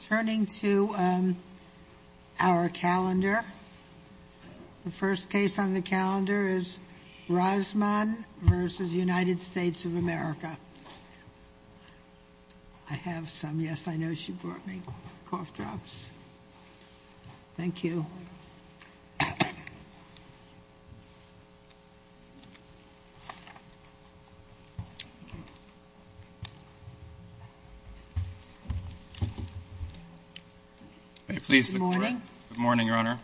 Turning to our calendar. The first case on the calendar is Razman v. United States of America. I have some. Yes, I know she brought me cough drops. Thank you. Good morning, Your Honor.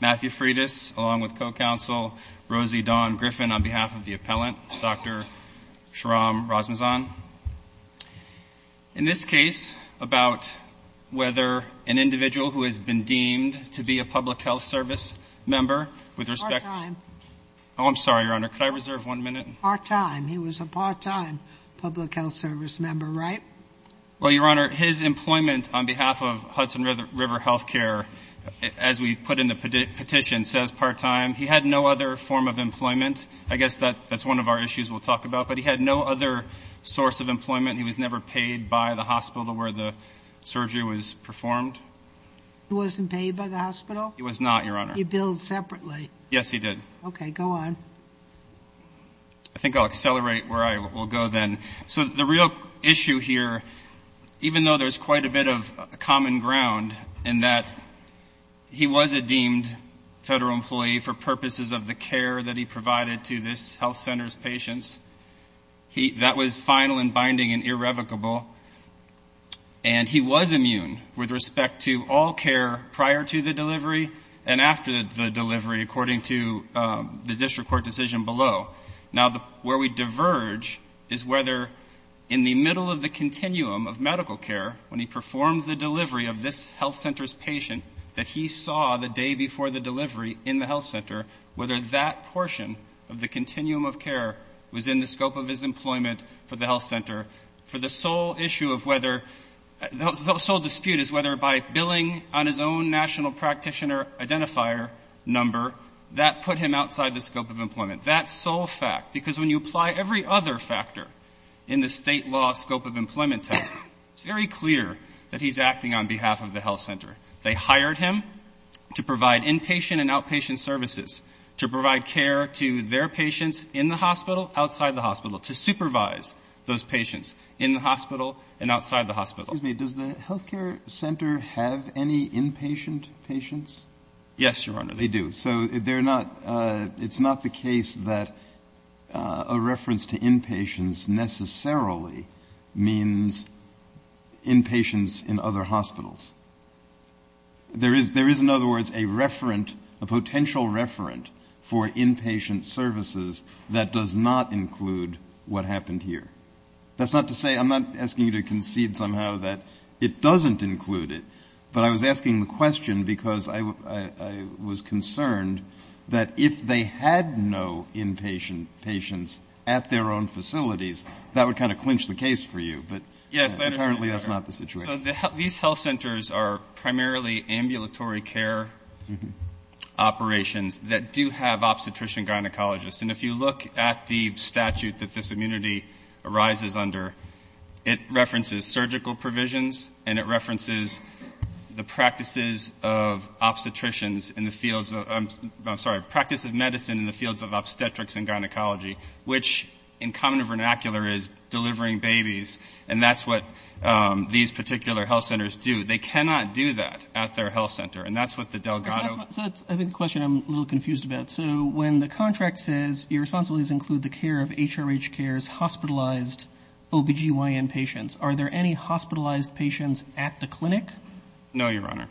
Matthew Freitas along with co-counsel Rosie Dawn Griffin on behalf of the appellant, Dr. Sharam Razmzan. In this case about whether an individual who has been deemed to be a public health service member with respect to Part-time. Oh, I'm sorry, Your Honor. Could I reserve one minute? Part-time. He was a part-time public health service member, right? Well, Your Honor, his employment on behalf of Hudson River Health Care, as we put in the petition, says part-time. He had no other form of employment. I guess that's one of our issues we'll talk about. But he had no other source of employment. He was never paid by the hospital where the surgery was performed. He wasn't paid by the hospital? He was not, Your Honor. He billed separately. Yes, he did. Okay, go on. I think I'll accelerate where I will go then. So the real issue here, even though there's quite a bit of common ground in that he was a deemed federal employee for purposes of the care that he provided to this health center's patients, that was final and binding and irrevocable. And he was immune with respect to all care prior to the delivery and after the delivery, according to the district court decision below. Now, where we diverge is whether in the middle of the continuum of medical care, when he performed the delivery of this health center's patient that he saw the day before the delivery in the health center, whether that portion of the continuum of care was in the scope of his employment for the health center. For the sole issue of whether the sole dispute is whether by billing on his own national practitioner identifier number, that put him outside the scope of employment. That sole fact, because when you apply every other factor in the State law scope of employment test, it's very clear that he's acting on behalf of the health center. They hired him to provide inpatient and outpatient services, to provide care to their patients in the hospital, outside the hospital, to supervise those patients in the hospital and outside the hospital. Excuse me, does the health care center have any inpatient patients? Yes, Your Honor. They do. So they're not, it's not the case that a reference to inpatients necessarily means inpatients in other hospitals. There is, in other words, a referent, a potential referent for inpatient services that does not include what happened here. That's not to say, I'm not asking you to concede somehow that it doesn't include it, but I was asking the question because I was concerned that if they had no inpatient patients at their own facilities, that would kind of clinch the case for you. But apparently that's not the situation. These health centers are primarily ambulatory care operations that do have obstetrician-gynecologists. And if you look at the statute that this immunity arises under, it references surgical provisions and it references the practices of obstetricians in the fields of, I'm sorry, practice of medicine in the fields of obstetrics and gynecology, which in common vernacular is delivering babies. And that's what these particular health centers do. They cannot do that at their health center. And that's what the Delgado. So that's, I think, the question I'm a little confused about. So when the contract says your responsibilities include the care of HRH Cares hospitalized OBGYN patients, are there any hospitalized patients at the clinic? No, Your Honor.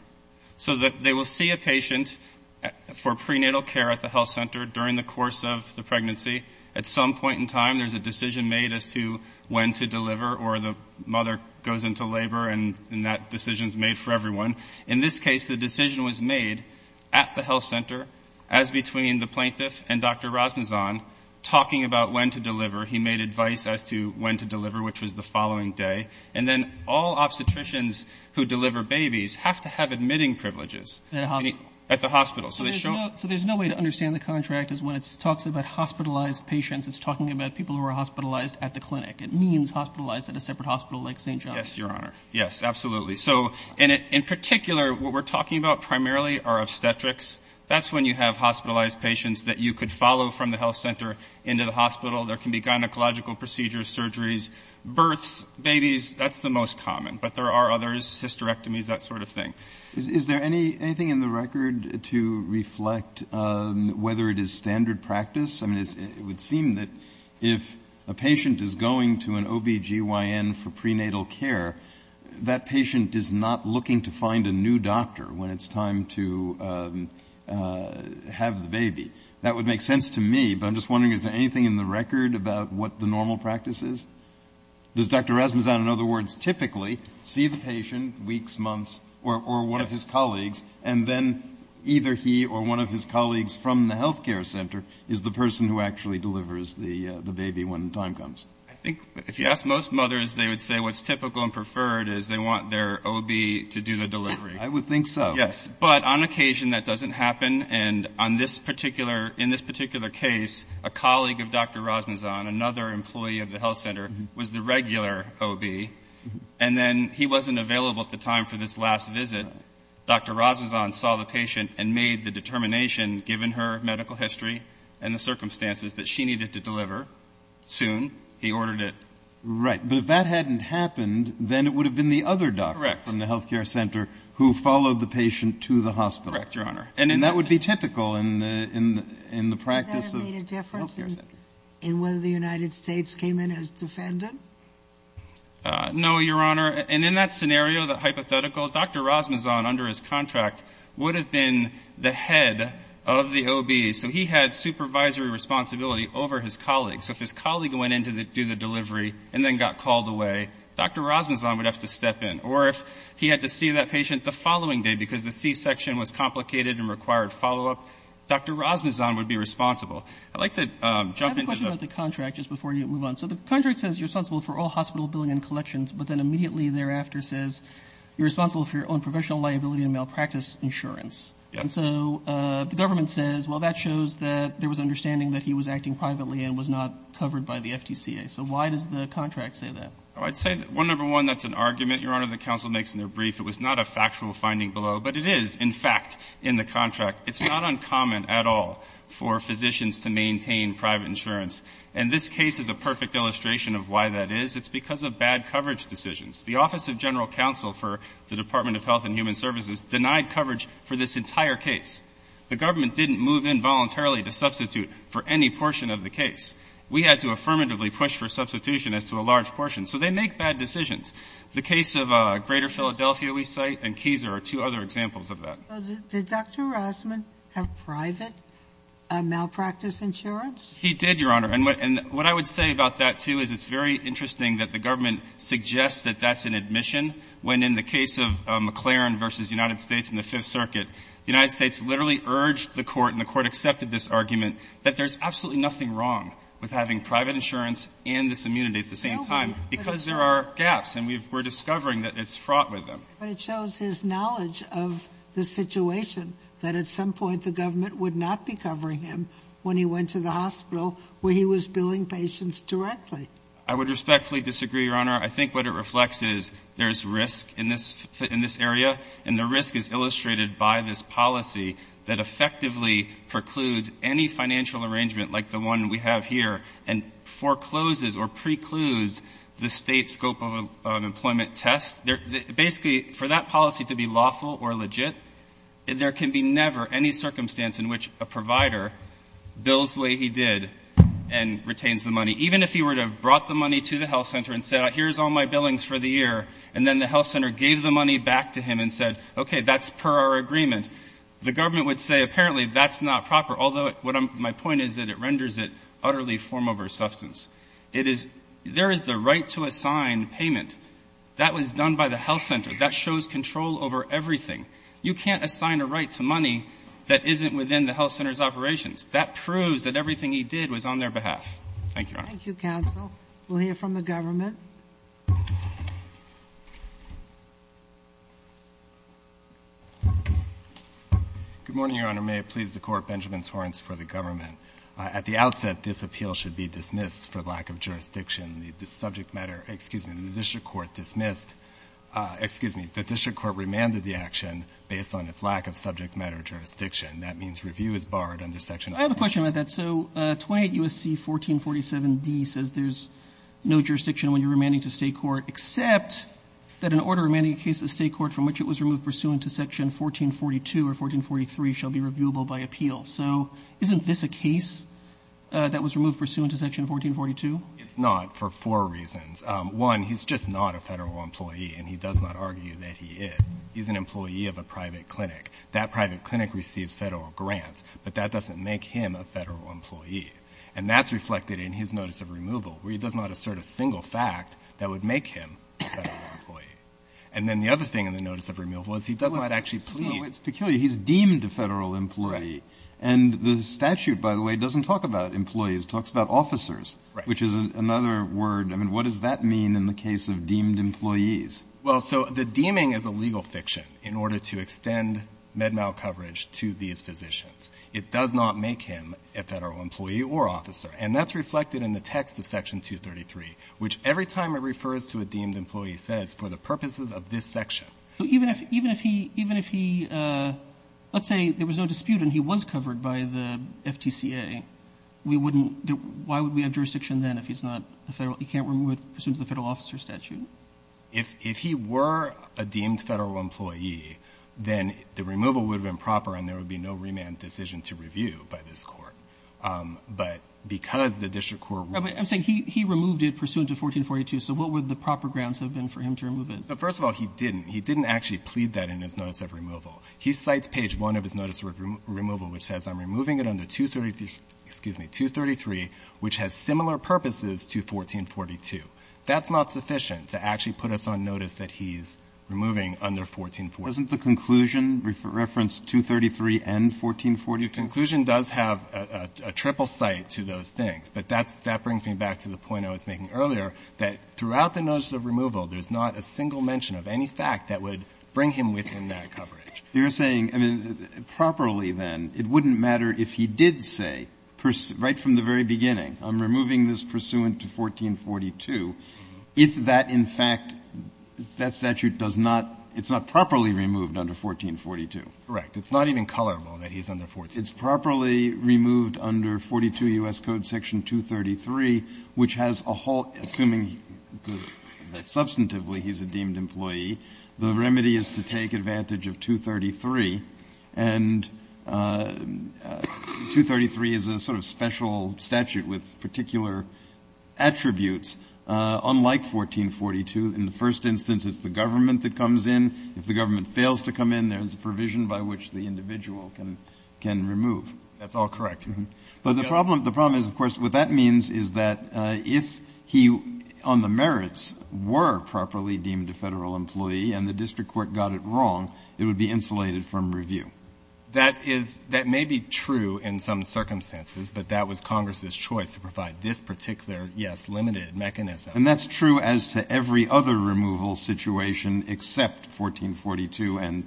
So they will see a patient for prenatal care at the health center during the course of the pregnancy. At some point in time, there's a decision made as to when to deliver or the mother goes into labor and that decision is made for everyone. In this case, the decision was made at the health center as between the plaintiff and Dr. Rasmusson talking about when to deliver. He made advice as to when to deliver, which was the following day. And then all obstetricians who deliver babies have to have admitting privileges. At a hospital. At the hospital. So there's no way to understand the contract is when it talks about hospitalized patients, it's talking about people who are hospitalized at the clinic. It means hospitalized at a separate hospital like St. John's. Yes, Your Honor. Yes, absolutely. So in particular, what we're talking about primarily are obstetrics. That's when you have hospitalized patients that you could follow from the health center into the hospital. There can be gynecological procedures, surgeries, births, babies. That's the most common. But there are others, hysterectomies, that sort of thing. Is there anything in the record to reflect whether it is standard practice? I mean, it would seem that if a patient is going to an OBGYN for prenatal care, that patient is not looking to find a new doctor when it's time to have the baby. That would make sense to me. But I'm just wondering, is there anything in the record about what the normal practice is? Does Dr. Rasmusson, in other words, typically see the patient weeks, months, or one of his colleagues, and then either he or one of his colleagues from the health care center is the person who actually delivers the baby when the time comes? I think if you ask most mothers, they would say what's typical and preferred is they want their OB to do the delivery. I would think so. Yes. But on occasion that doesn't happen. And in this particular case, a colleague of Dr. Rasmusson, another employee of the health center, was the regular OB. And then he wasn't available at the time for this last visit. But Dr. Rasmusson saw the patient and made the determination, given her medical history and the circumstances, that she needed to deliver soon. He ordered it. Right. But if that hadn't happened, then it would have been the other doctor from the health care center who followed the patient to the hospital. Correct, Your Honor. And that would be typical in the practice of the health care center. Would that have made a difference in whether the United States came in as defendant? No, Your Honor. And in that scenario, that hypothetical, Dr. Rasmusson, under his contract, would have been the head of the OB. So he had supervisory responsibility over his colleague. So if his colleague went in to do the delivery and then got called away, Dr. Rasmusson would have to step in. Or if he had to see that patient the following day because the C-section was complicated and required follow-up, Dr. Rasmusson would be responsible. I'd like to jump into the ‑‑ I have a question about the contract just before you move on. So the contract says you're responsible for all hospital billing and collections, but then immediately thereafter says you're responsible for your own professional liability and malpractice insurance. Yes. And so the government says, well, that shows that there was understanding that he was acting privately and was not covered by the FTCA. So why does the contract say that? Oh, I'd say that, one, number one, that's an argument, Your Honor, that counsel makes in their brief. It was not a factual finding below. But it is, in fact, in the contract. It's not uncommon at all for physicians to maintain private insurance. And this case is a perfect illustration of why that is. It's because of bad coverage decisions. The Office of General Counsel for the Department of Health and Human Services denied coverage for this entire case. The government didn't move in voluntarily to substitute for any portion of the case. We had to affirmatively push for substitution as to a large portion. So they make bad decisions. The case of Greater Philadelphia we cite and Keiser are two other examples of that. So did Dr. Rasmusson have private malpractice insurance? He did, Your Honor. And what I would say about that, too, is it's very interesting that the government suggests that that's an admission, when in the case of McLaren v. United States in the Fifth Circuit, the United States literally urged the Court and the Court accepted this argument that there's absolutely nothing wrong with having private insurance and this immunity at the same time because there are gaps. And we're discovering that it's fraught with them. But it shows his knowledge of the situation that at some point the government would not be covering him when he went to the hospital where he was billing patients directly. I would respectfully disagree, Your Honor. I think what it reflects is there's risk in this area, and the risk is illustrated by this policy that effectively precludes any financial arrangement like the one we have here and forecloses or precludes the state scope of employment test. Basically, for that policy to be lawful or legit, there can be never any circumstance in which a provider bills the way he did and retains the money. Even if he were to have brought the money to the health center and said, here's all my billings for the year, and then the health center gave the money back to him and said, okay, that's per our agreement, the government would say apparently that's not proper, although my point is that it renders it utterly form over substance. It is — there is the right to assign payment. That was done by the health center. That shows control over everything. You can't assign a right to money that isn't within the health center's operations. That proves that everything he did was on their behalf. Thank you, Your Honor. Thank you, counsel. We'll hear from the government. Good morning, Your Honor. May it please the Court. Benjamin Torrence for the government. At the outset, this appeal should be dismissed for lack of jurisdiction. The subject matter — excuse me, the district court dismissed — excuse me, the district court remanded the action based on its lack of subject matter jurisdiction. That means review is barred under Section 14. I have a question about that. So 28 U.S.C. 1447d says there's no jurisdiction when you're remanding to state court except that an order remanding a case to the state court from which it was removed pursuant to Section 1442 or 1443 shall be reviewable by appeal. So isn't this a case that was removed pursuant to Section 1442? It's not for four reasons. One, he's just not a Federal employee, and he does not argue that he is. He's an employee of a private clinic. That private clinic receives Federal grants, but that doesn't make him a Federal employee. And that's reflected in his notice of removal, where he does not assert a single fact that would make him a Federal employee. And then the other thing in the notice of removal is he does not actually plead. It's peculiar. He's deemed a Federal employee. Right. And the statute, by the way, doesn't talk about employees. It talks about officers. Right. Which is another word. I mean, what does that mean in the case of deemed employees? Well, so the deeming is a legal fiction in order to extend MedMal coverage to these physicians. It does not make him a Federal employee or officer. And that's reflected in the text of Section 233, which every time it refers to a deemed employee says, for the purposes of this section. So even if he, even if he, even if he, let's say there was no dispute and he was covered by the FTCA, we wouldn't, why would we have jurisdiction then if he's not a Federal employee pursuant to the Federal officer statute? If he were a deemed Federal employee, then the removal would have been proper and there would be no remand decision to review by this Court. But because the district court ruled that. I'm saying he removed it pursuant to 1442. So what would the proper grounds have been for him to remove it? First of all, he didn't. He didn't actually plead that in his notice of removal. He cites page 1 of his notice of removal, which says, I'm removing it under 233, which has similar purposes to 1442. That's not sufficient to actually put us on notice that he's removing under 1440. Isn't the conclusion referenced 233 and 1440? The conclusion does have a triple cite to those things. But that's, that brings me back to the point I was making earlier, that throughout the notice of removal there's not a single mention of any fact that would bring him within that coverage. You're saying, I mean, properly then, it wouldn't matter if he did say, right from the very beginning, I'm removing this pursuant to 1442, if that, in fact, that statute does not, it's not properly removed under 1442. Correct. It's not even colorable that he's under 1442. It's properly removed under 42 U.S. Code section 233, which has a whole, assuming that substantively he's a deemed employee, the remedy is to take advantage of 233. And 233 is a sort of special statute with particular attributes, unlike 1442. In the first instance, it's the government that comes in. If the government fails to come in, there's a provision by which the individual can, can remove. That's all correct. But the problem, the problem is, of course, what that means is that if he, on the merits, were properly deemed a Federal employee and the district court got it wrong, it would be insulated from review. That is, that may be true in some circumstances, but that was Congress's choice to provide this particular, yes, limited mechanism. And that's true as to every other removal situation except 1442 and,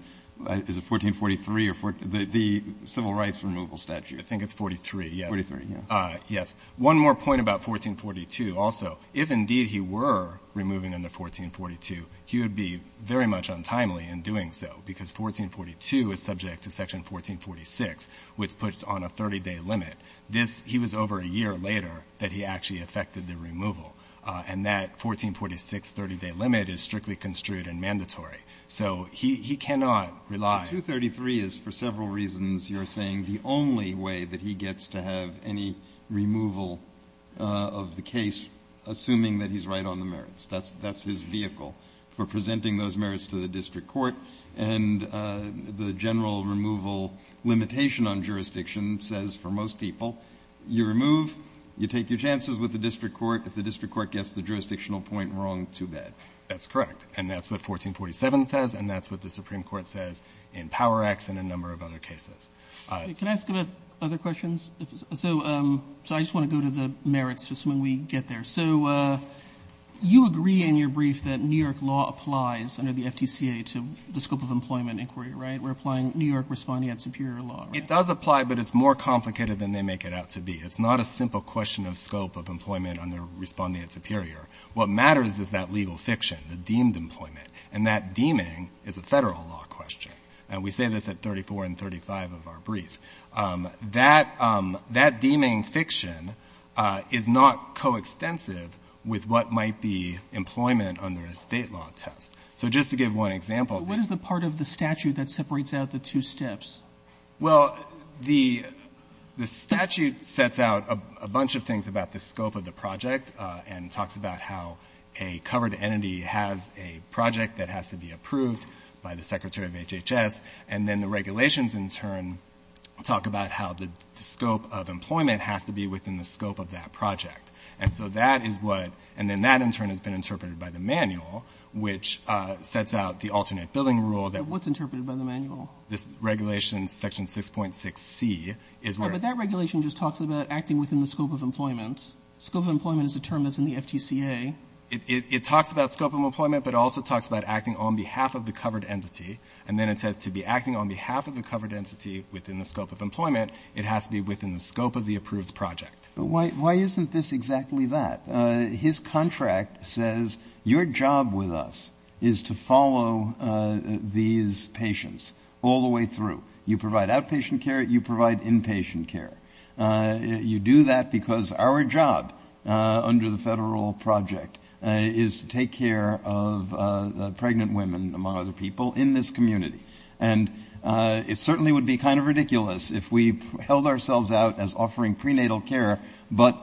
is it 1443 or, the Civil Rights Removal Statute? I think it's 43, yes. 43, yeah. Yes. One more point about 1442 also. If indeed he were removing under 1442, he would be very much untimely in doing so, because 1442 is subject to section 1446, which puts on a 30-day limit. This, he was over a year later that he actually effected the removal. And that 1446 30-day limit is strictly construed and mandatory. So he, he cannot rely. The 233 is, for several reasons you're saying, the only way that he gets to have any removal of the case, assuming that he's right on the merits. That's, that's his vehicle for presenting those merits to the district court. And the general removal limitation on jurisdiction says for most people, you remove, you take your chances with the district court. If the district court gets the jurisdictional point wrong, too bad. That's correct. And that's what 1447 says, and that's what the Supreme Court says in Power Act and a number of other cases. Roberts. Can I ask other questions? So, so I just want to go to the merits just when we get there. So you agree in your brief that New York law applies under the FTCA to the scope of employment inquiry, right? We're applying New York responding at superior law, right? It does apply, but it's more complicated than they make it out to be. It's not a simple question of scope of employment under responding at superior. What matters is that legal fiction, the deemed employment. And that deeming is a Federal law question. And we say this at 34 and 35 of our brief. That, that deeming fiction is not coextensive with what might be employment under a State law test. So just to give one example. But what is the part of the statute that separates out the two steps? Well, the statute sets out a bunch of things about the scope of the project and talks about how a covered entity has a project that has to be approved by the Secretary of HHS. And then the regulations in turn talk about how the scope of employment has to be within the scope of that project. And so that is what, and then that in turn has been interpreted by the manual, which sets out the alternate billing rule that. What's interpreted by the manual? This regulation section 6.6c is where. But that regulation just talks about acting within the scope of employment. Scope of employment is a term that's in the FTCA. It talks about scope of employment, but it also talks about acting on behalf of the covered entity. And then it says to be acting on behalf of the covered entity within the scope of employment, it has to be within the scope of the approved project. But why isn't this exactly that? His contract says your job with us is to follow these patients all the way through. You provide outpatient care. You provide inpatient care. You do that because our job under the federal project is to take care of pregnant women, among other people, in this community. And it certainly would be kind of ridiculous if we held ourselves out as offering prenatal care, but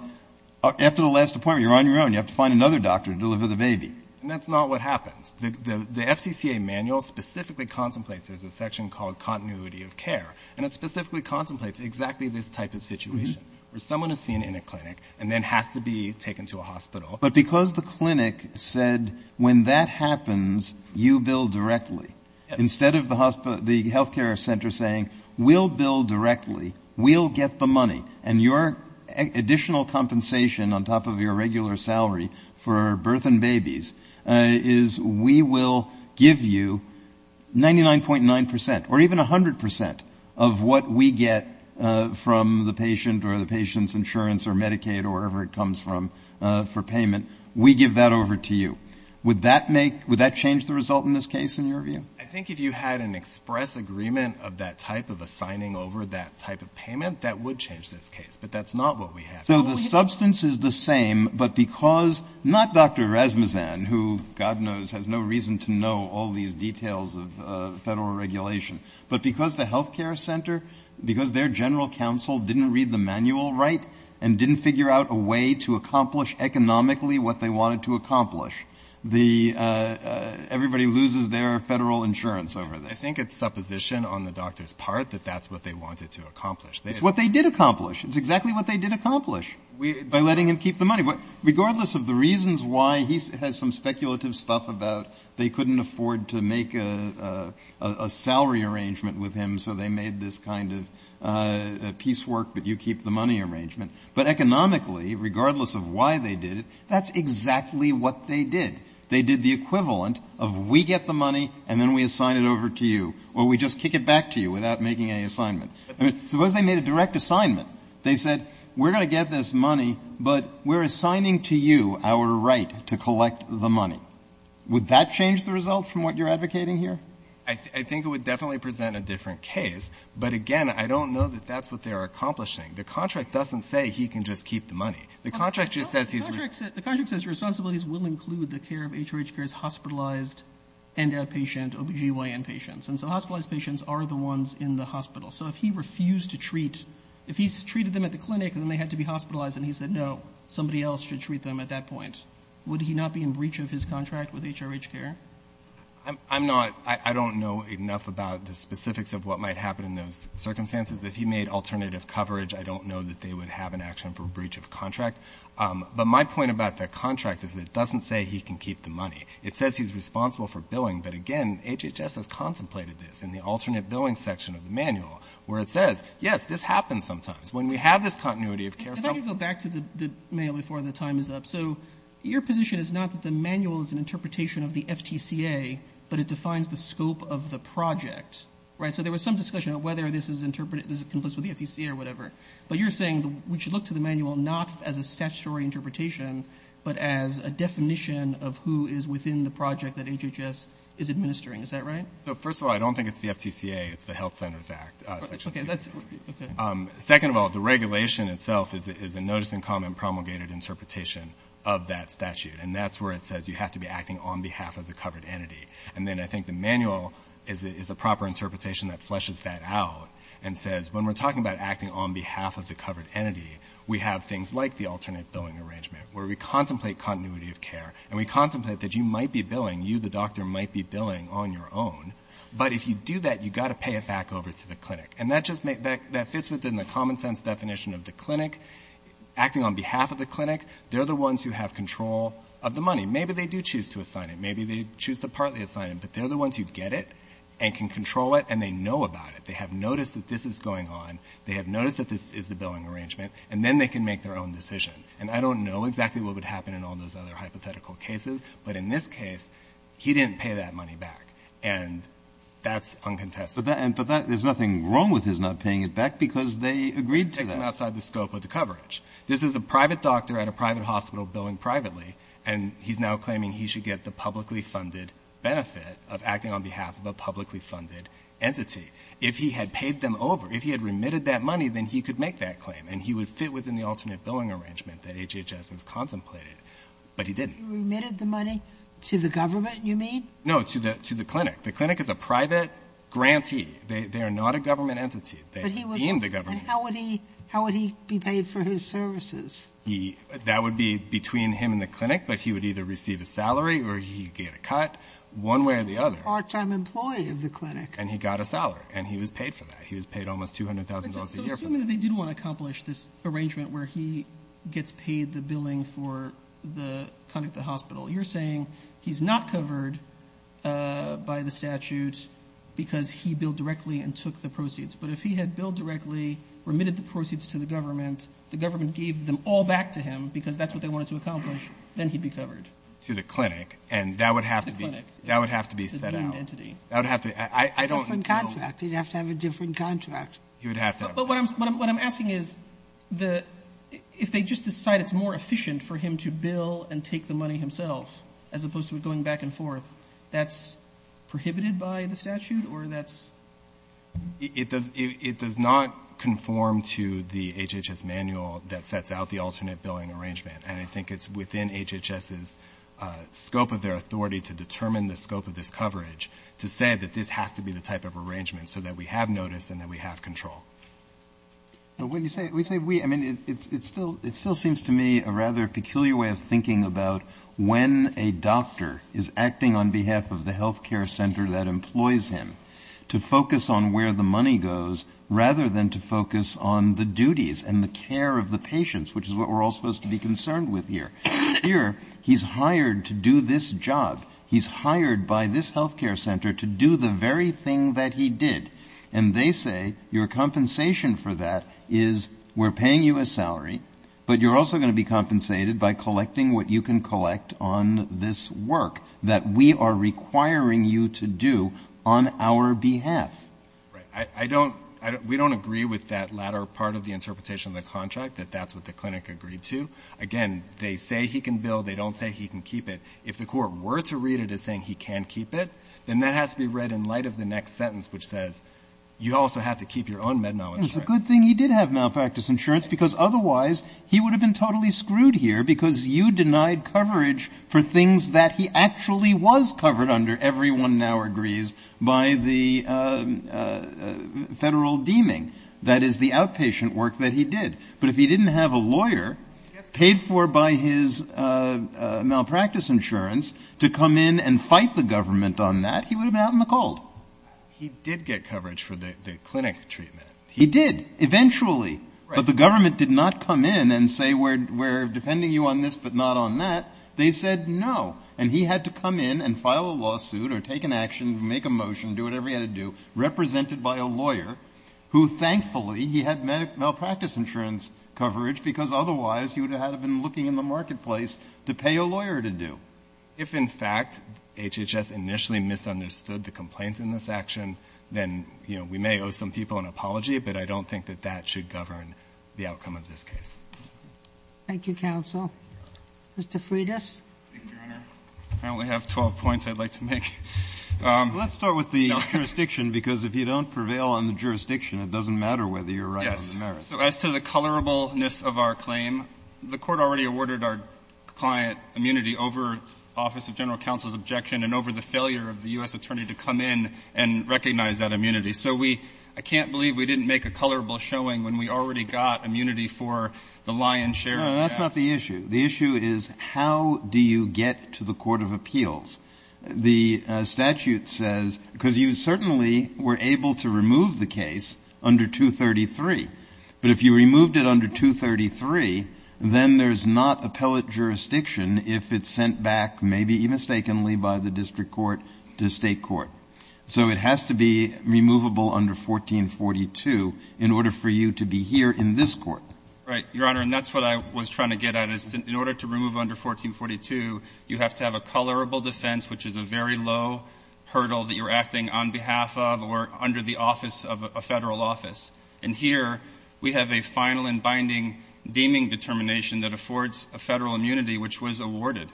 after the last appointment you're on your own. You have to find another doctor to deliver the baby. And that's not what happens. The FTCA manual specifically contemplates, there's a section called continuity of care, and it specifically contemplates exactly this type of situation, where someone is seen in a clinic and then has to be taken to a hospital. But because the clinic said, when that happens, you bill directly, instead of the healthcare center saying, we'll bill directly, we'll get the money, and your additional compensation on top of your regular salary for birth and babies is we will give you 99.9% or even 100% of what we get from the patient or the patient's insurance or Medicaid or whatever it comes from for payment. We give that over to you. Would that change the result in this case, in your view? I think if you had an express agreement of that type of a signing over that type of payment, that would change this case. But that's not what we have. So the substance is the same, but because not Dr. Rasmussen, who God knows has no reason to know all these details of federal regulation, but because the healthcare center, because their general counsel didn't read the manual right and didn't figure out a way to accomplish economically what they wanted to accomplish, everybody loses their federal insurance over this. I think it's supposition on the doctor's part that that's what they wanted to accomplish. It's what they did accomplish. It's exactly what they did accomplish, by letting him keep the money. Regardless of the reasons why he has some speculative stuff about they couldn't afford to make a salary arrangement with him, so they made this kind of piecework but you keep the money arrangement. But economically, regardless of why they did it, that's exactly what they did. They did the equivalent of we get the money and then we assign it over to you, or we just kick it back to you without making any assignment. Suppose they made a direct assignment. They said, we're going to get this money, but we're assigning to you our right to collect the money. Would that change the result from what you're advocating here? I think it would definitely present a different case, but again, I don't know that that's what they're accomplishing. The contract doesn't say he can just keep the money. The contract just says he's responsible. The contract says responsibilities will include the care of HRH care's hospitalized and outpatient OBGYN patients. And so hospitalized patients are the ones in the hospital. So if he refused to treat, if he treated them at the clinic and then they had to be hospitalized and he said, no, somebody else should treat them at that point, would he not be in breach of his contract with HRH care? I'm not. I don't know enough about the specifics of what might happen in those circumstances. If he made alternative coverage, I don't know that they would have an action for breach of contract. But my point about the contract is that it doesn't say he can keep the money. It says he's responsible for billing, but again, HHS has contemplated this in the alternate billing section of the manual, where it says, yes, this happens sometimes. When we have this continuity of care some of the time is up. So your position is not that the manual is an interpretation of the FTCA, but it defines the scope of the project. So there was some discussion of whether this is interpreted, this is complicit with the FTCA or whatever. But you're saying we should look to the manual not as a statutory interpretation, but as a definition of who is within the project that HHS is administering. Is that right? First of all, I don't think it's the FTCA. It's the Health Centers Act. Second of all, the regulation itself is a notice and comment promulgated interpretation of that statute. And that's where it says you have to be acting on behalf of the covered entity. And then I think the manual is a proper interpretation that fleshes that out and says when we're talking about acting on behalf of the covered entity, we have things like the alternate billing arrangement, where we contemplate continuity of care and we contemplate that you might be billing, you, the doctor, might be billing on your own. But if you do that, you've got to pay it back over to the clinic. And that fits within the common sense definition of the clinic. Acting on behalf of the clinic, they're the ones who have control of the money. Maybe they do choose to assign it. Maybe they choose to partly assign it. But they're the ones who get it and can control it, and they know about it. They have noticed that this is going on. They have noticed that this is the billing arrangement. And then they can make their own decision. And I don't know exactly what would happen in all those other hypothetical cases, but in this case, he didn't pay that money back. And that's uncontested. But that — there's nothing wrong with his not paying it back because they agreed to that. It's just something outside the scope of the coverage. This is a private doctor at a private hospital billing privately, and he's now claiming he should get the publicly funded benefit of acting on behalf of a publicly funded entity. If he had paid them over, if he had remitted that money, then he could make that claim, and he would fit within the alternate billing arrangement that HHS has contemplated. But he didn't. You remitted the money to the government, you mean? No, to the clinic. The clinic is a private grantee. They are not a government entity. They would be in the government. And how would he be paid for his services? That would be between him and the clinic, but he would either receive a salary or he would get a cut one way or the other. He's a part-time employee of the clinic. And he got a salary. And he was paid for that. He was paid almost $200,000 a year for that. So assuming that they did want to accomplish this arrangement where he gets paid the billing for the conduct at the hospital, you're saying he's not covered by the statute because he billed directly and took the proceeds. But if he had billed directly, remitted the proceeds to the government, the government gave them all back to him because that's what they wanted to accomplish, then he'd be covered. To the clinic. To the clinic. That would have to be set out. It's a different entity. I don't know. It's a different contract. He'd have to have a different contract. He would have to have a different contract. But what I'm asking is if they just decide it's more efficient for him to bill and take the money himself as opposed to it going back and forth, that's prohibited by the statute or that's? It does not conform to the HHS manual that sets out the alternate billing arrangement. And I think it's within HHS's scope of their authority to determine the scope of this coverage to say that this has to be the type of arrangement so that we have notice and that we have control. But when you say we say we, I mean, it still seems to me a rather peculiar way of thinking about when a doctor is acting on behalf of the health care center that they focus on where the money goes rather than to focus on the duties and the care of the patients, which is what we're all supposed to be concerned with here. Here he's hired to do this job. He's hired by this health care center to do the very thing that he did. And they say your compensation for that is we're paying you a salary, but you're also going to be compensated by collecting what you can collect on this work that we are requiring you to do on our behalf. Right. I don't, we don't agree with that latter part of the interpretation of the contract, that that's what the clinic agreed to. Again, they say he can bill. They don't say he can keep it. If the court were to read it as saying he can keep it, then that has to be read in light of the next sentence, which says you also have to keep your own med mal insurance. And it's a good thing he did have malpractice insurance because otherwise he would have been totally screwed here because you denied coverage for things that he actually was covered under, everyone now agrees, by the federal deeming. That is the outpatient work that he did. But if he didn't have a lawyer paid for by his malpractice insurance to come in and fight the government on that, he would have been out in the cold. He did get coverage for the clinic treatment. He did, eventually. But the government did not come in and say we're defending you on this but not on that. They said no. And he had to come in and file a lawsuit or take an action, make a motion, do whatever he had to do, represented by a lawyer who, thankfully, he had malpractice insurance coverage because otherwise he would have had to have been looking in the marketplace to pay a lawyer to do. If, in fact, HHS initially misunderstood the complaints in this action, then, you know, we may owe some people an apology, but I don't think that that should govern the outcome of this case. Thank you, counsel. Mr. Freitas. Thank you, Your Honor. I only have 12 points I'd like to make. Let's start with the jurisdiction, because if you don't prevail on the jurisdiction, it doesn't matter whether you're right on the merits. Yes. So as to the colorableness of our claim, the Court already awarded our client immunity over office of general counsel's objection and over the failure of the U.S. attorney to come in and recognize that immunity. So we can't believe we didn't make a colorable showing when we already got immunity for the lion's share of the facts. No, that's not the issue. The issue is, how do you get to the court of appeals? The statute says, because you certainly were able to remove the case under 233. But if you removed it under 233, then there's not appellate jurisdiction if it's sent back, maybe mistakenly, by the district court to State court. So it has to be removable under 1442 in order for you to be here in this court. Right. Your Honor, and that's what I was trying to get at. In order to remove under 1442, you have to have a colorable defense, which is a very low hurdle that you're acting on behalf of or under the office of a Federal office. And here, we have a final and binding deeming determination that affords a Federal immunity, which was awarded,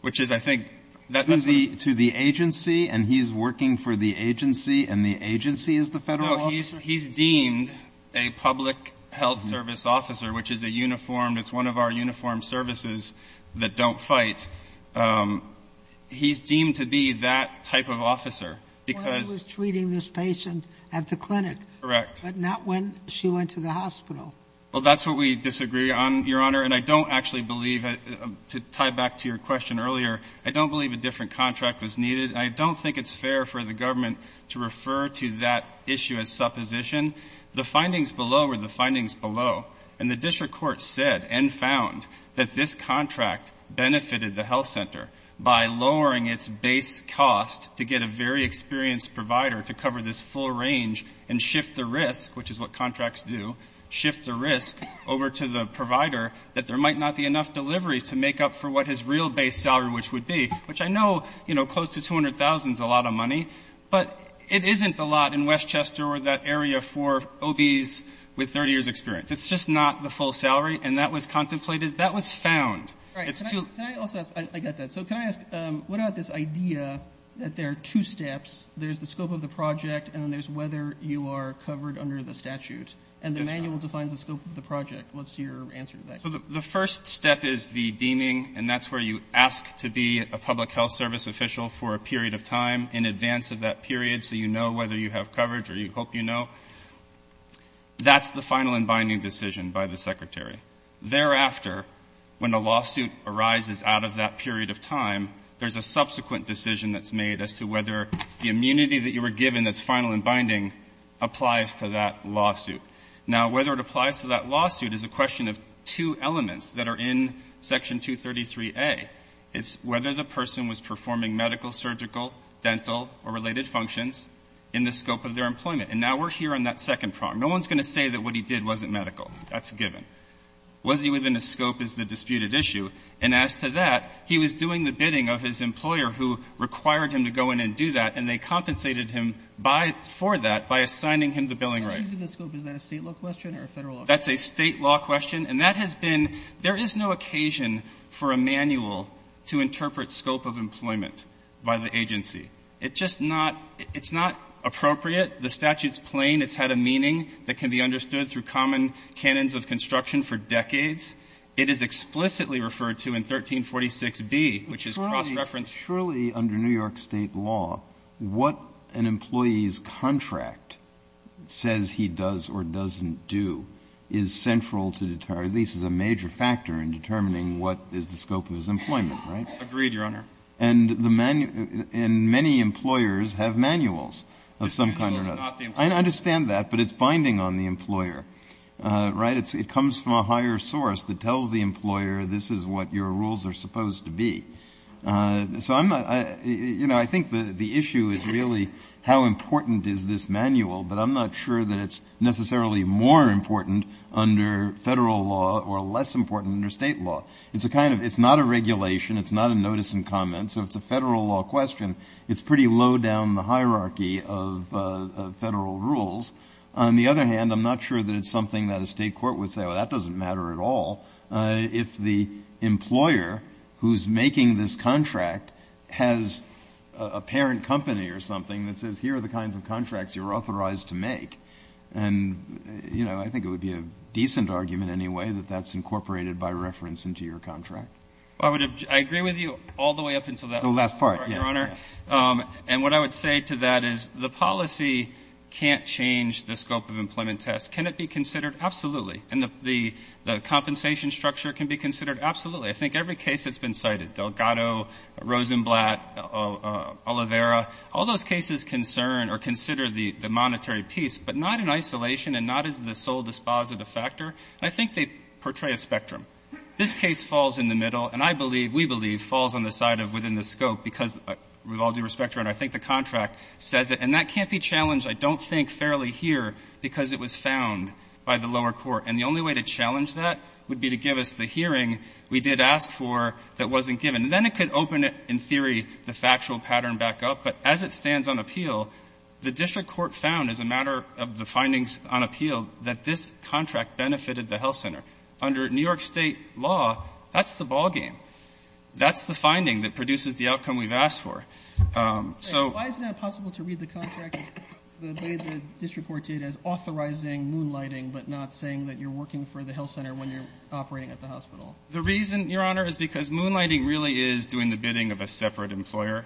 which is, I think, that's what I'm trying to get at. To the agency, and he's working for the agency, and the agency is the Federal officer? No. He's deemed a public health service officer, which is a uniformed, it's one of our uniformed services that don't fight. He's deemed to be that type of officer, because he was treating this patient at the clinic. Correct. But not when she went to the hospital. Well, that's what we disagree on, Your Honor. And I don't actually believe that, to tie back to your question earlier, I don't believe a different contract was needed. I don't think it's fair for the government to refer to that issue as supposition. The findings below were the findings below. And the district court said and found that this contract benefited the health center by lowering its base cost to get a very experienced provider to cover this full range and shift the risk, which is what contracts do, shift the risk over to the provider that there might not be enough deliveries to make up for what his real base salary, which would be, which I know close to $200,000 is a lot of money, but it isn't a lot in Westchester or that area for OBs with 30 years' experience. It's just not the full salary. And that was contemplated. That was found. Can I also ask? I got that. So can I ask, what about this idea that there are two steps? There's the scope of the project, and then there's whether you are covered under the statute. And the manual defines the scope of the project. What's your answer to that? So the first step is the deeming, and that's where you ask to be a public health service official for a period of time in advance of that period so you know whether you have coverage or you hope you know. That's the final and binding decision by the secretary. Thereafter, when a lawsuit arises out of that period of time, there's a subsequent decision that's made as to whether the immunity that you were given that's final and binding applies to that lawsuit. Now, whether it applies to that lawsuit is a question of two elements that are in Section 233a. It's whether the person was performing medical, surgical, dental, or related functions in the scope of their employment. And now we're here on that second prong. No one's going to say that what he did wasn't medical. That's a given. Was he within a scope is the disputed issue. And as to that, he was doing the bidding of his employer who required him to go in and do that, and they compensated him by for that by assigning him the billing rights. And so he was within the scope. Is that a State law question or a Federal law question? That's a State law question. And that has been — there is no occasion for a manual to interpret scope of employment by the agency. It's just not — it's not appropriate. The statute's plain. It's had a meaning that can be understood through common canons of construction for decades. It is explicitly referred to in 1346b, which is cross-reference. But surely under New York State law, what an employee's contract says he does or doesn't do is central to deter — at least is a major factor in determining what is the scope of his employment, right? Agreed, Your Honor. And the — and many employers have manuals of some kind or other. Manuals, not the employer. I understand that, but it's binding on the employer, right? It comes from a higher source that tells the employer this is what your rules are So I'm not — you know, I think the issue is really how important is this manual, but I'm not sure that it's necessarily more important under Federal law or less important under State law. It's a kind of — it's not a regulation. It's not a notice and comment. So it's a Federal law question. It's pretty low down the hierarchy of Federal rules. On the other hand, I'm not sure that it's something that a State court would say, well, that doesn't matter at all. If the employer who's making this contract has a parent company or something that says here are the kinds of contracts you're authorized to make, and, you know, I think it would be a decent argument anyway that that's incorporated by reference into your contract. Well, I would — I agree with you all the way up until that last part, Your Honor. The last part, yes. And what I would say to that is the policy can't change the scope of employment Can it be considered? Absolutely. And the compensation structure can be considered? Absolutely. I think every case that's been cited, Delgado, Rosenblatt, Oliveira, all those cases concern or consider the monetary piece, but not in isolation and not as the sole dispositive factor. And I think they portray a spectrum. This case falls in the middle, and I believe, we believe, falls on the side of within the scope because, with all due respect, Your Honor, I think the contract says it. And that can't be challenged, I don't think, fairly here because it was found by the lower court. And the only way to challenge that would be to give us the hearing we did ask for that wasn't given. And then it could open it, in theory, the factual pattern back up. But as it stands on appeal, the district court found, as a matter of the findings on appeal, that this contract benefited the health center. Under New York State law, that's the ballgame. That's the finding that produces the outcome we've asked for. So — Why is it not possible to read the contract the way the district court did, as authorizing moonlighting, but not saying that you're working for the health center when you're operating at the hospital? The reason, Your Honor, is because moonlighting really is doing the bidding of a separate employer.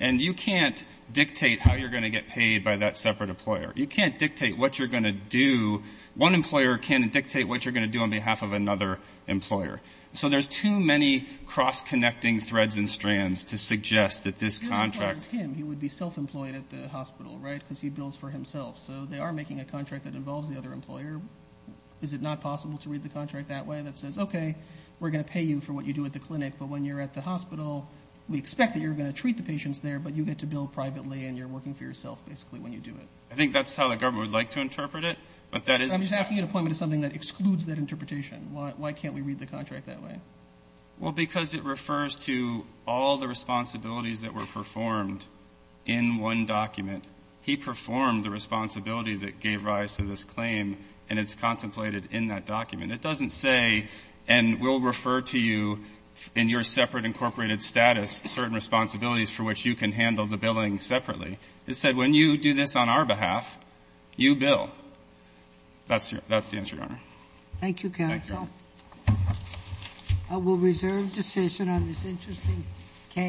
And you can't dictate how you're going to get paid by that separate employer. You can't dictate what you're going to do. One employer can't dictate what you're going to do on behalf of another employer. So there's too many cross-connecting threads and strands to suggest that this contract — If it were him, he would be self-employed at the hospital, right, because he bills for himself. So they are making a contract that involves the other employer. Is it not possible to read the contract that way, that says, okay, we're going to pay you for what you do at the clinic, but when you're at the hospital, we expect that you're going to treat the patients there, but you get to bill privately and you're working for yourself, basically, when you do it? I think that's how the government would like to interpret it, but that is — I'm just asking you to point me to something that excludes that interpretation. Why can't we read the contract that way? Well, because it refers to all the responsibilities that were performed in one document. He performed the responsibility that gave rise to this claim, and it's contemplated in that document. It doesn't say, and we'll refer to you in your separate incorporated status certain responsibilities for which you can handle the billing separately. It said, when you do this on our behalf, you bill. That's the answer, Your Honor. Thank you, counsel. Thank you, Your Honor. I will reserve decision on this interesting case.